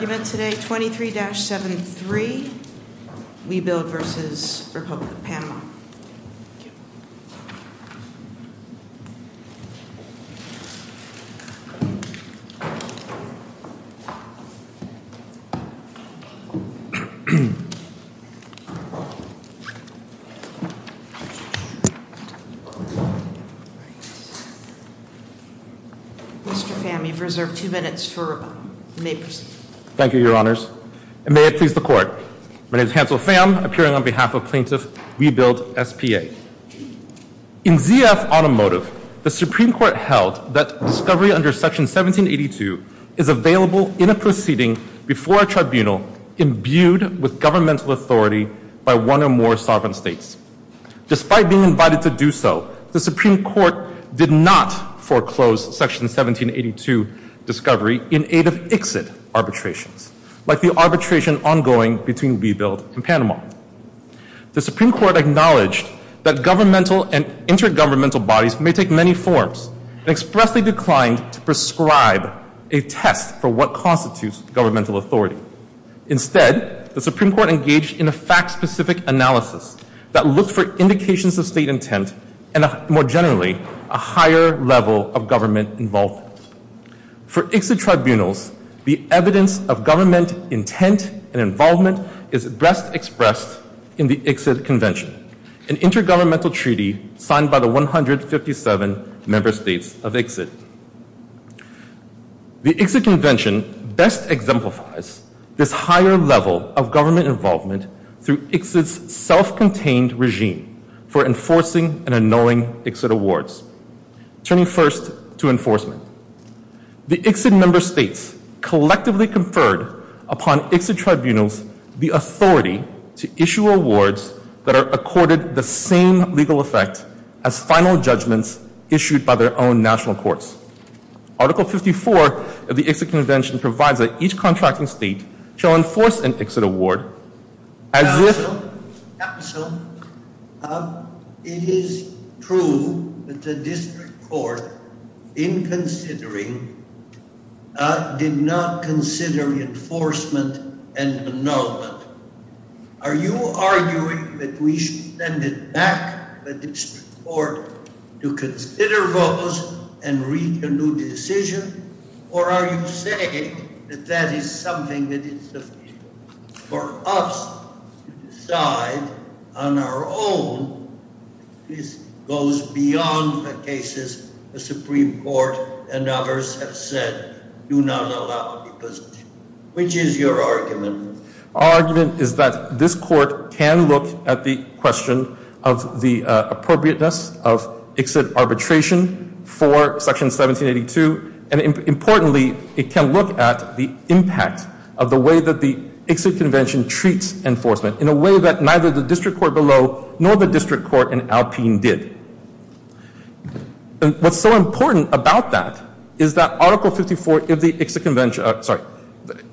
The argument today, 23-73, Webuild versus Republic of Panama. Mr. Pham, you've reserved two minutes for rebuttal. Thank you, Your Honors. And may it please the Court. My name is Hansel Pham, appearing on behalf of Plaintiff Webuild S.P.A. In Z.F. Automotive, the Supreme Court held that discovery under Section 1782 is available in a proceeding before a tribunal imbued with governmental authority by one or more sovereign states. Despite being invited to do so, the Supreme Court did not foreclose Section 1782 discovery in aid of ICSID arbitrations, like the arbitration ongoing between Webuild and Panama. The Supreme Court acknowledged that governmental and intergovernmental bodies may take many forms and expressly declined to prescribe a test for what constitutes governmental authority. Instead, the Supreme Court engaged in a fact-specific analysis that looked for indications of state intent and, more generally, a higher level of government involvement. For ICSID tribunals, the evidence of government intent and involvement is best expressed in the ICSID Convention, an intergovernmental treaty signed by the 157 member states of ICSID. The ICSID Convention best exemplifies this higher level of government involvement through ICSID's self-contained regime for enforcing and annulling ICSID awards, turning first to enforcement. The ICSID member states collectively conferred upon ICSID tribunals the authority to issue awards that are accorded the same legal effect as final judgments issued by their own national courts. Article 54 of the ICSID Convention provides that each contracting state shall enforce an ICSID award as if... ...the district court, in considering, did not consider enforcement and annulment. Are you arguing that we should send it back to the district court to consider those and reach a new decision, or are you saying that that is something that is sufficient for us to decide on our own This goes beyond the cases the Supreme Court and others have said do not allow because... Which is your argument? Our argument is that this court can look at the question of the appropriateness of ICSID arbitration for Section 1782 and importantly, it can look at the impact of the way that the ICSID Convention treats enforcement in a way that neither the district court below nor the district court in Alpine did. What's so important about that is that Article 54 of the ICSID Convention, sorry,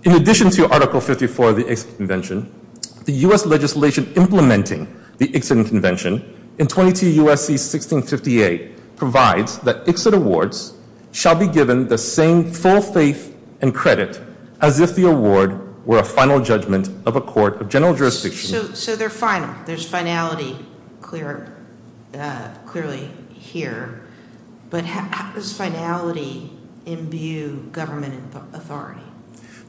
in addition to Article 54 of the ICSID Convention, the U.S. legislation implementing the ICSID Convention in 22 U.S.C. 1658 provides that ICSID awards shall be given the same full faith and credit as if the award were a final judgment of a court of general jurisdiction. So they're final, there's finality clearly here, but how does finality imbue government authority?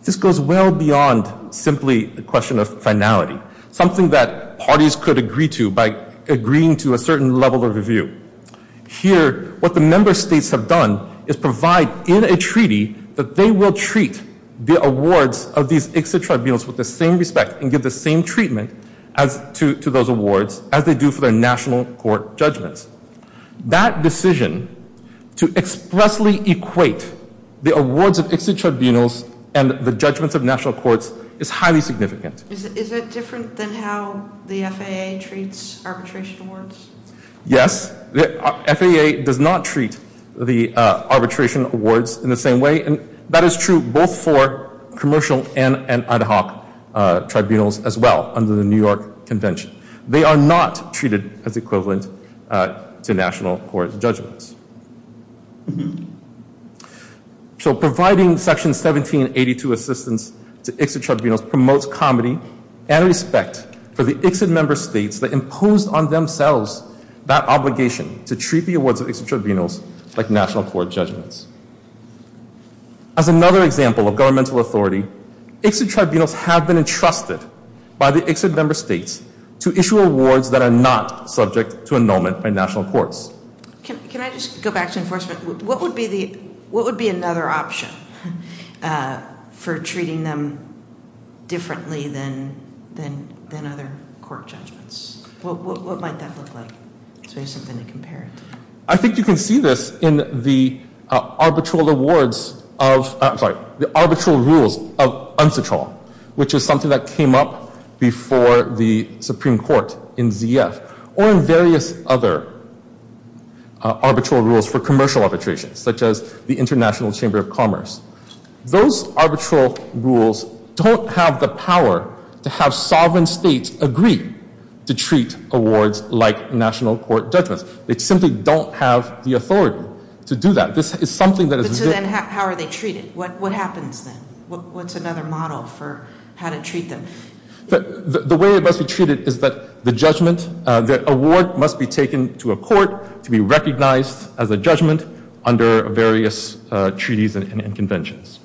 This goes well beyond simply the question of finality. Something that parties could agree to by agreeing to a certain level of review. Here, what the member states have done is provide in a treaty that they will treat the awards of these ICSID tribunals with the same respect and give the same treatment to those awards as they do for their national court judgments. That decision to expressly equate the awards of ICSID tribunals and the judgments of national courts is highly significant. Is it different than how the FAA treats arbitration awards? Yes, the FAA does not treat the arbitration awards in the same way, and that is true both for commercial and ad hoc tribunals as well under the New York Convention. They are not treated as equivalent to national court judgments. So providing Section 1782 assistance to ICSID tribunals promotes comedy and respect for the ICSID member states that impose on themselves that obligation to treat the awards of ICSID tribunals like national court judgments. As another example of governmental authority, ICSID tribunals have been entrusted by the ICSID member states to issue awards that are not subject to annulment by national courts. Can I just go back to enforcement? What would be another option for treating them differently than other court judgments? What might that look like? Do you have something to compare it to? I think you can see this in the arbitral rules of UNCITROL, which is something that came up before the Supreme Court in ZF, or in various other arbitral rules for commercial arbitration, such as the International Chamber of Commerce. Those arbitral rules don't have the power to have sovereign states agree to treat awards like national court judgments. They simply don't have the authority to do that. So then how are they treated? What happens then? What's another model for how to treat them? The way it must be treated is that the award must be taken to a court to be recognized as a judgment under various treaties and conventions.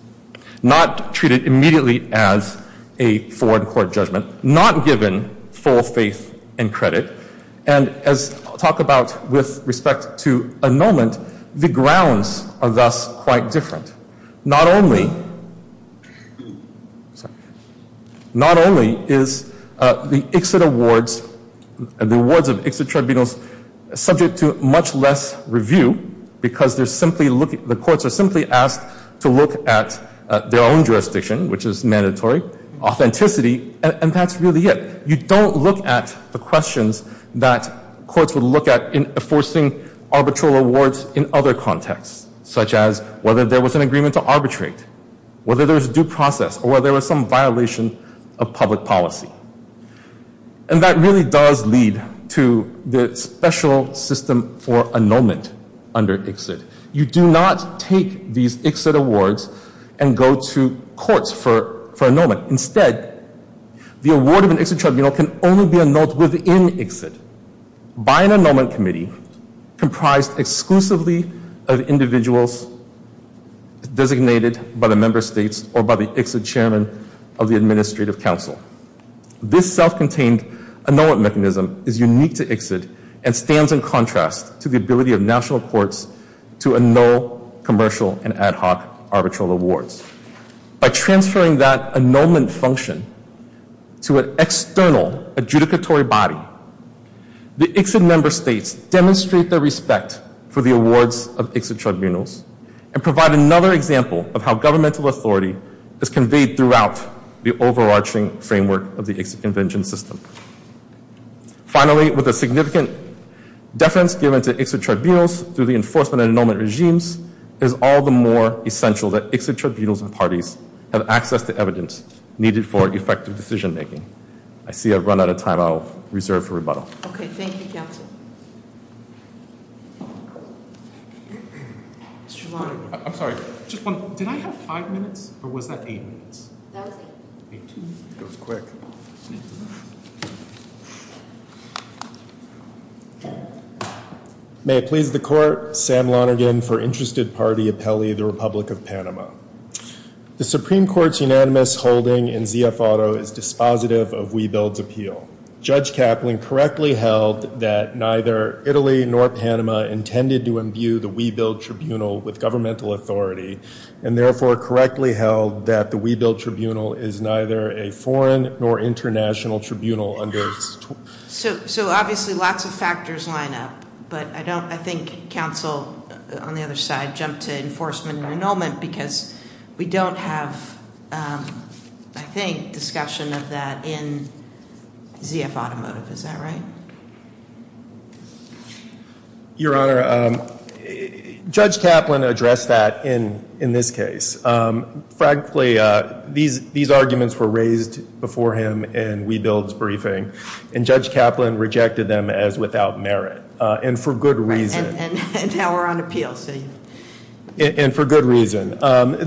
Not treated immediately as a foreign court judgment. Not given full faith and credit. And as I'll talk about with respect to annulment, the grounds are thus quite different. Not only is the awards of ICSID tribunals subject to much less review, because the courts are simply asked to look at their own jurisdiction, which is mandatory, authenticity, and that's really it. You don't look at the questions that courts would look at in enforcing arbitral awards in other contexts, such as whether there was an agreement to arbitrate, whether there was due process, or whether there was some violation of public policy. And that really does lead to the special system for annulment under ICSID. You do not take these ICSID awards and go to courts for annulment. Instead, the award of an ICSID tribunal can only be annulled within ICSID by an annulment committee comprised exclusively of individuals designated by the Member States or by the ICSID Chairman of the Administrative Council. This self-contained annulment mechanism is unique to ICSID and stands in contrast to the ability of national courts to annul commercial and ad hoc arbitral awards. By transferring that annulment function to an external adjudicatory body, the ICSID Member States demonstrate their respect for the awards of ICSID tribunals and provide another example of how governmental authority is conveyed throughout the overarching framework of the ICSID Convention System. Finally, with the significant deference given to ICSID tribunals through the enforcement and annulment regimes, it is all the more essential that ICSID tribunals and parties have access to evidence needed for effective decision-making. I see I've run out of time. I'll reserve for rebuttal. Okay. Thank you, Counsel. Mr. Lonergan. I'm sorry. Did I have five minutes, or was that eight minutes? That was eight. It was quick. Thank you. May it please the Court, Sam Lonergan for Interested Party Appellee, the Republic of Panama. The Supreme Court's unanimous holding in ZF Auto is dispositive of WeBuild's appeal. Judge Kaplan correctly held that neither Italy nor Panama intended to imbue the WeBuild Tribunal with governmental authority and therefore correctly held that the WeBuild Tribunal is neither a foreign nor international tribunal under its So obviously lots of factors line up, but I think Counsel on the other side jumped to enforcement and annulment because we don't have, I think, discussion of that in ZF Automotive. Is that right? Your Honor, Judge Kaplan addressed that in this case. Frankly, these arguments were raised before him in WeBuild's briefing, and Judge Kaplan rejected them as without merit and for good reason. And now we're on appeal. And for good reason.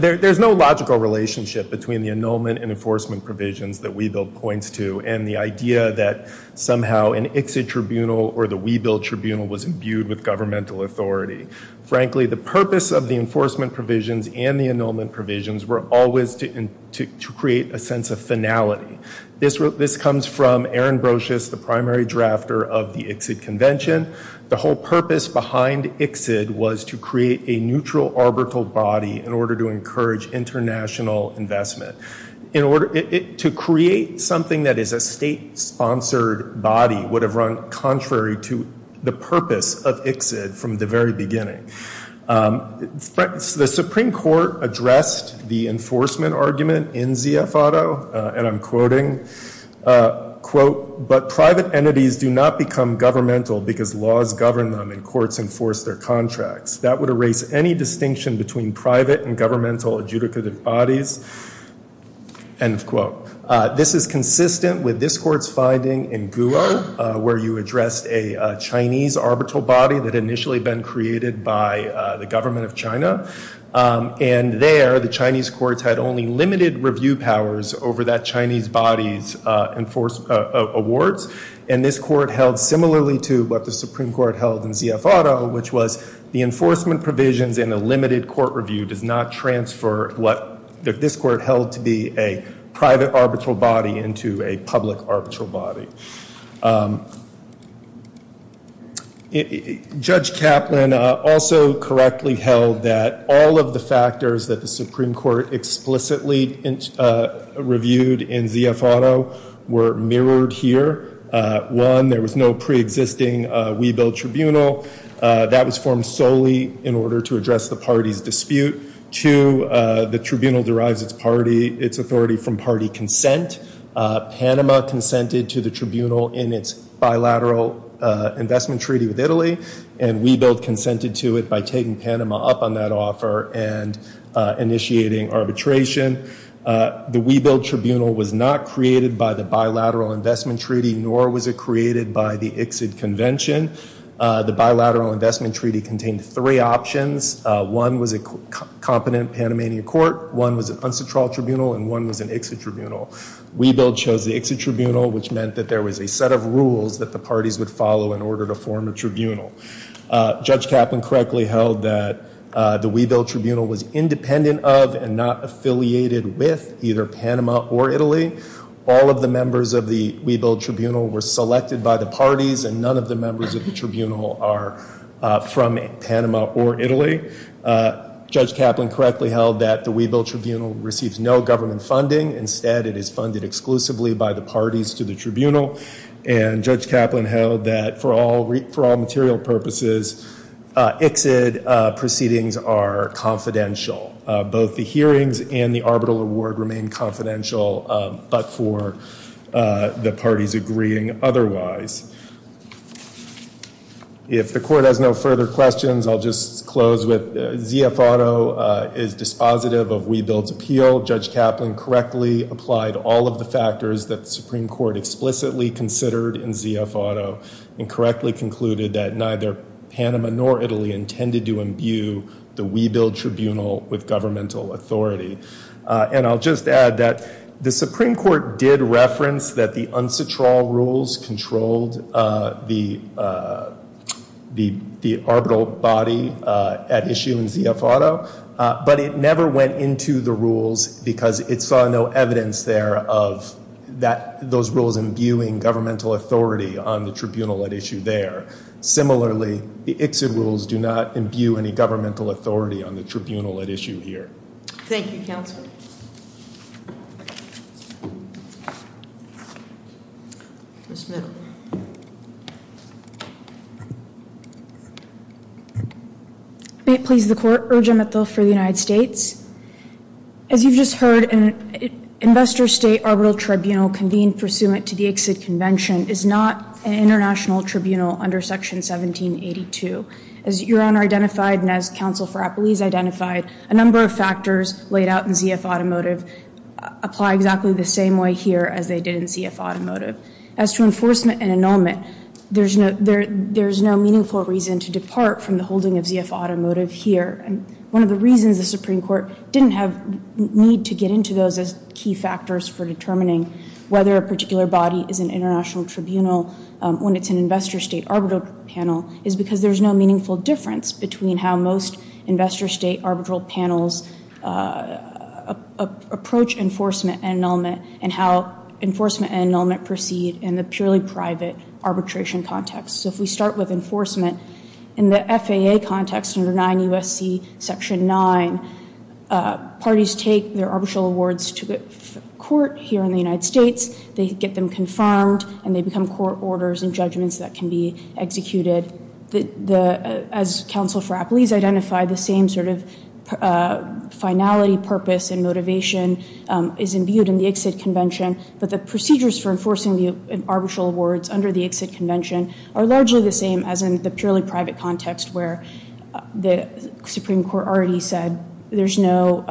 There's no logical relationship between the annulment and enforcement provisions that WeBuild points to and the idea that somehow an ICSID tribunal or the WeBuild tribunal was imbued with governmental authority. Frankly, the purpose of the enforcement provisions and the annulment provisions were always to create a sense of finality. This comes from Aaron Brocious, the primary drafter of the ICSID convention. The whole purpose behind ICSID was to create a neutral arbitral body in order to encourage international investment. To create something that is a state-sponsored body would have run contrary to the purpose of ICSID from the very beginning. The Supreme Court addressed the enforcement argument in ZF Auto, and I'm quoting, quote, but private entities do not become governmental because laws govern them and courts enforce their contracts. That would erase any distinction between private and governmental adjudicative bodies. End of quote. This is consistent with this court's finding in Guo, where you addressed a Chinese arbitral body that had initially been created by the government of China. And there, the Chinese courts had only limited review powers over that Chinese body's awards. And this court held similarly to what the Supreme Court held in ZF Auto, which was the enforcement provisions in a limited court review does not transfer what this court held to be a private arbitral body into a public arbitral body. Judge Kaplan also correctly held that all of the factors that the Supreme Court explicitly reviewed in ZF Auto were mirrored here. One, there was no pre-existing WeBuild Tribunal. That was formed solely in order to address the party's dispute. Two, the tribunal derives its authority from party consent. Panama consented to the tribunal in its bilateral investment treaty with Italy, and WeBuild consented to it by taking Panama up on that offer and initiating arbitration. The WeBuild Tribunal was not created by the bilateral investment treaty, nor was it created by the ICSID convention. The bilateral investment treaty contained three options. One was a competent Panamanian court. One was an unstructured tribunal, and one was an ICSID tribunal. WeBuild chose the ICSID tribunal, which meant that there was a set of rules that the parties would follow in order to form a tribunal. Judge Kaplan correctly held that the WeBuild Tribunal was independent of and not affiliated with either Panama or Italy. All of the members of the WeBuild Tribunal were selected by the parties, and none of the members of the tribunal are from Panama or Italy. Judge Kaplan correctly held that the WeBuild Tribunal receives no government funding. Instead, it is funded exclusively by the parties to the tribunal. And Judge Kaplan held that for all material purposes, ICSID proceedings are confidential. Both the hearings and the arbitral award remain confidential, but for the parties agreeing otherwise. If the court has no further questions, I'll just close with ZF Auto is dispositive of WeBuild's appeal. Judge Kaplan correctly applied all of the factors that the Supreme Court explicitly considered in ZF Auto, and correctly concluded that neither Panama nor Italy intended to imbue the WeBuild Tribunal with governmental authority. And I'll just add that the Supreme Court did reference that the unsatural rules controlled the arbitral body at issue in ZF Auto, but it never went into the rules because it saw no evidence there of those rules imbuing governmental authority on the tribunal at issue there. Similarly, the ICSID rules do not imbue any governmental authority on the tribunal at issue here. Thank you, counsel. Ms. Mittle. May it please the court, Urgea Mittle for the United States. As you've just heard, an investor state arbitral tribunal convened pursuant to the ICSID convention is not an international tribunal under Section 1782. As your honor identified, and as counsel Frappoli has identified, a number of factors laid out in ZF Automotive apply exactly the same way here as they did in ZF Automotive. As to enforcement and annulment, there's no meaningful reason to depart from the holding of ZF Automotive here. And one of the reasons the Supreme Court didn't have need to get into those as key factors for determining whether a particular body is an international tribunal when it's an investor state arbitral panel is because there's no meaningful difference between how most investor state arbitral panels approach enforcement and annulment and how enforcement and annulment proceed in the purely private arbitration context. So if we start with enforcement, in the FAA context under 9 U.S.C. Section 9, parties take their arbitral awards to the court here in the United States. They get them confirmed, and they become court orders and judgments that can be executed. As counsel Frappoli has identified, the same sort of finality, purpose, and motivation is imbued in the ICSID convention, but the procedures for enforcing the arbitral awards under the ICSID convention are largely the same as in the purely private context where the Supreme Court already said there's no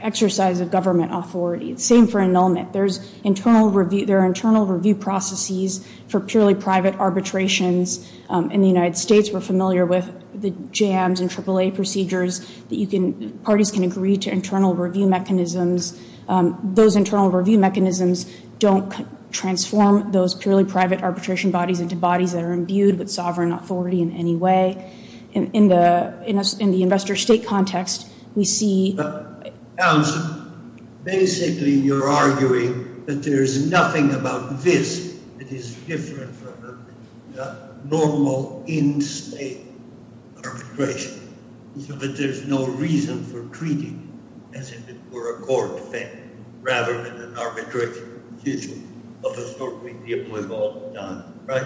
exercise of government authority. Same for annulment. There are internal review processes for purely private arbitrations. In the United States, we're familiar with the JAMS and AAA procedures that parties can agree to internal review mechanisms. Those internal review mechanisms don't transform those purely private arbitration bodies into bodies that are imbued with sovereign authority in any way. In the investor state context, we see- So that there's no reason for treating it as if it were a court thing rather than an arbitration decision of the sort we've all done, right?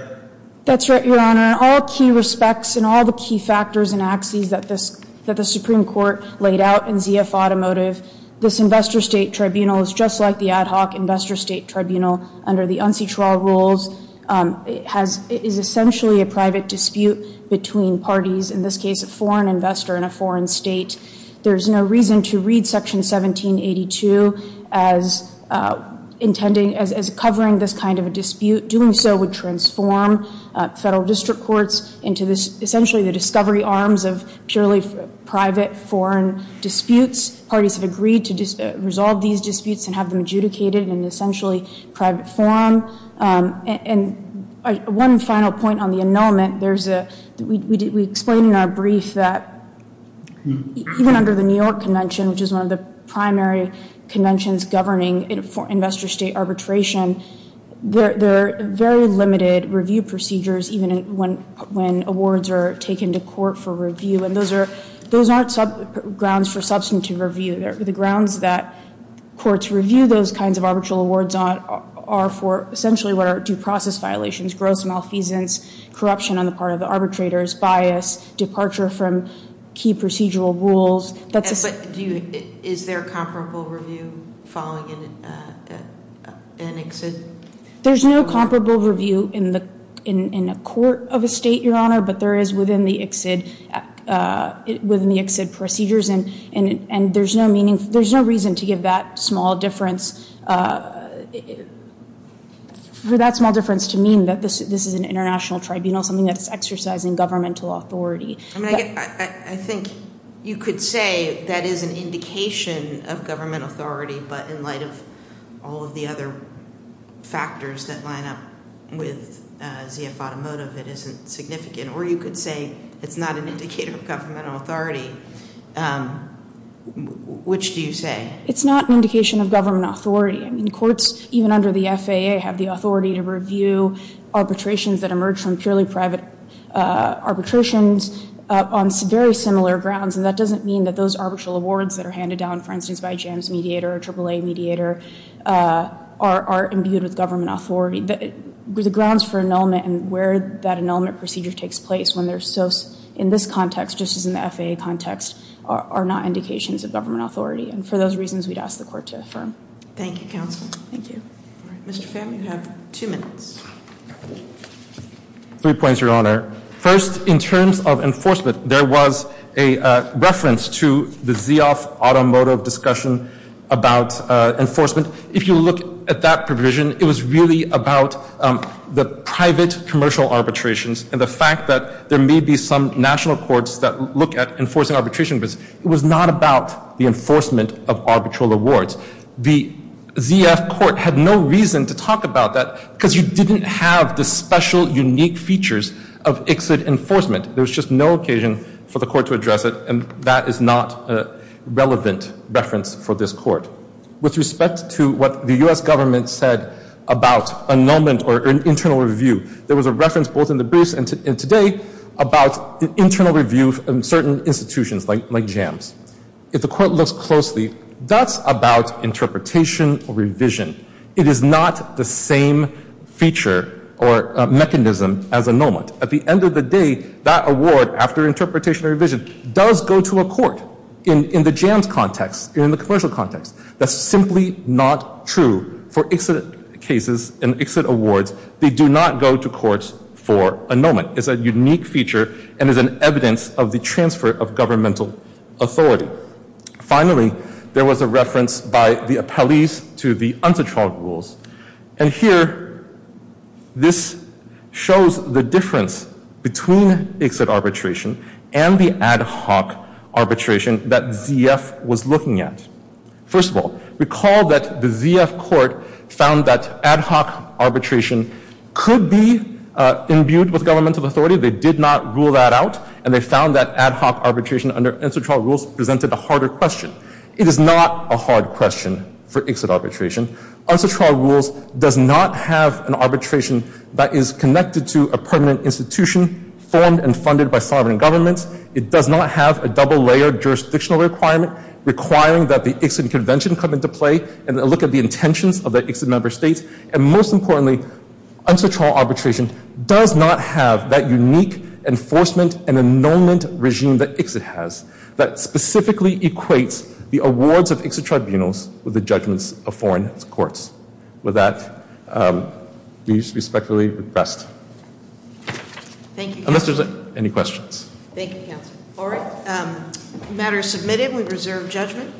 That's right, Your Honor. In all key respects and all the key factors and axes that the Supreme Court laid out in ZF Automotive, this investor state tribunal is just like the ad hoc investor state tribunal under the UNCTRA rules. It is essentially a private dispute between parties, in this case a foreign investor in a foreign state. There's no reason to read Section 1782 as covering this kind of a dispute. Doing so would transform federal district courts into essentially the discovery arms of purely private foreign disputes. Parties have agreed to resolve these disputes and have them adjudicated in essentially private form. And one final point on the annulment. We explained in our brief that even under the New York Convention, which is one of the primary conventions governing investor state arbitration, there are very limited review procedures even when awards are taken to court for review. And those aren't grounds for substantive review. The grounds that courts review those kinds of arbitral awards are for essentially what are due process violations, gross malfeasance, corruption on the part of the arbitrators, bias, departure from key procedural rules. Is there comparable review following an exit? There's no comparable review in a court of a state, Your Honor, but there is within the exit procedures. And there's no reason to give that small difference to mean that this is an international tribunal, something that's exercising governmental authority. I think you could say that is an indication of government authority, but in light of all of the other factors that line up with ZF Automotive, it isn't significant. Or you could say it's not an indicator of governmental authority. Which do you say? It's not an indication of government authority. I mean, courts, even under the FAA, have the authority to review arbitrations that emerge from purely private arbitrations on very similar grounds. And that doesn't mean that those arbitral awards that are handed down, for instance, by a JAMS mediator or a AAA mediator are imbued with government authority. The grounds for annulment and where that annulment procedure takes place in this context, just as in the FAA context, are not indications of government authority. And for those reasons, we'd ask the court to affirm. Thank you, counsel. Thank you. Mr. Pham, you have two minutes. Three points, Your Honor. First, in terms of enforcement, there was a reference to the ZF Automotive discussion about enforcement. If you look at that provision, it was really about the private commercial arbitrations and the fact that there may be some national courts that look at enforcing arbitration, but it was not about the enforcement of arbitral awards. The ZF court had no reason to talk about that because you didn't have the special, unique features of ICSID enforcement. There was just no occasion for the court to address it, and that is not a relevant reference for this court. With respect to what the U.S. government said about annulment or internal review, there was a reference both in the briefs and today about internal review in certain institutions like jams. If the court looks closely, that's about interpretation or revision. It is not the same feature or mechanism as annulment. At the end of the day, that award, after interpretation or revision, does go to a court in the jams context, in the commercial context. That's simply not true for ICSID cases and ICSID awards. They do not go to courts for annulment. It's a unique feature and is an evidence of the transfer of governmental authority. Finally, there was a reference by the appellees to the UNCTAD rules, and here this shows the difference between ICSID arbitration and the ad hoc arbitration that ZF was looking at. First of all, recall that the ZF court found that ad hoc arbitration could be imbued with governmental authority. They did not rule that out, and they found that ad hoc arbitration under UNCTAD rules presented a harder question. It is not a hard question for ICSID arbitration. UNCTAD rules does not have an arbitration that is connected to a permanent institution formed and funded by sovereign governments. It does not have a double-layered jurisdictional requirement requiring that the ICSID convention come into play and look at the intentions of the ICSID member states. And most importantly, UNCTAD arbitration does not have that unique enforcement and annulment regime that ICSID has that specifically equates the awards of ICSID tribunals with the judgments of foreign courts. With that, we respectfully request. Thank you. Unless there's any questions. Thank you, counsel. All right. Matter is submitted. We reserve judgment.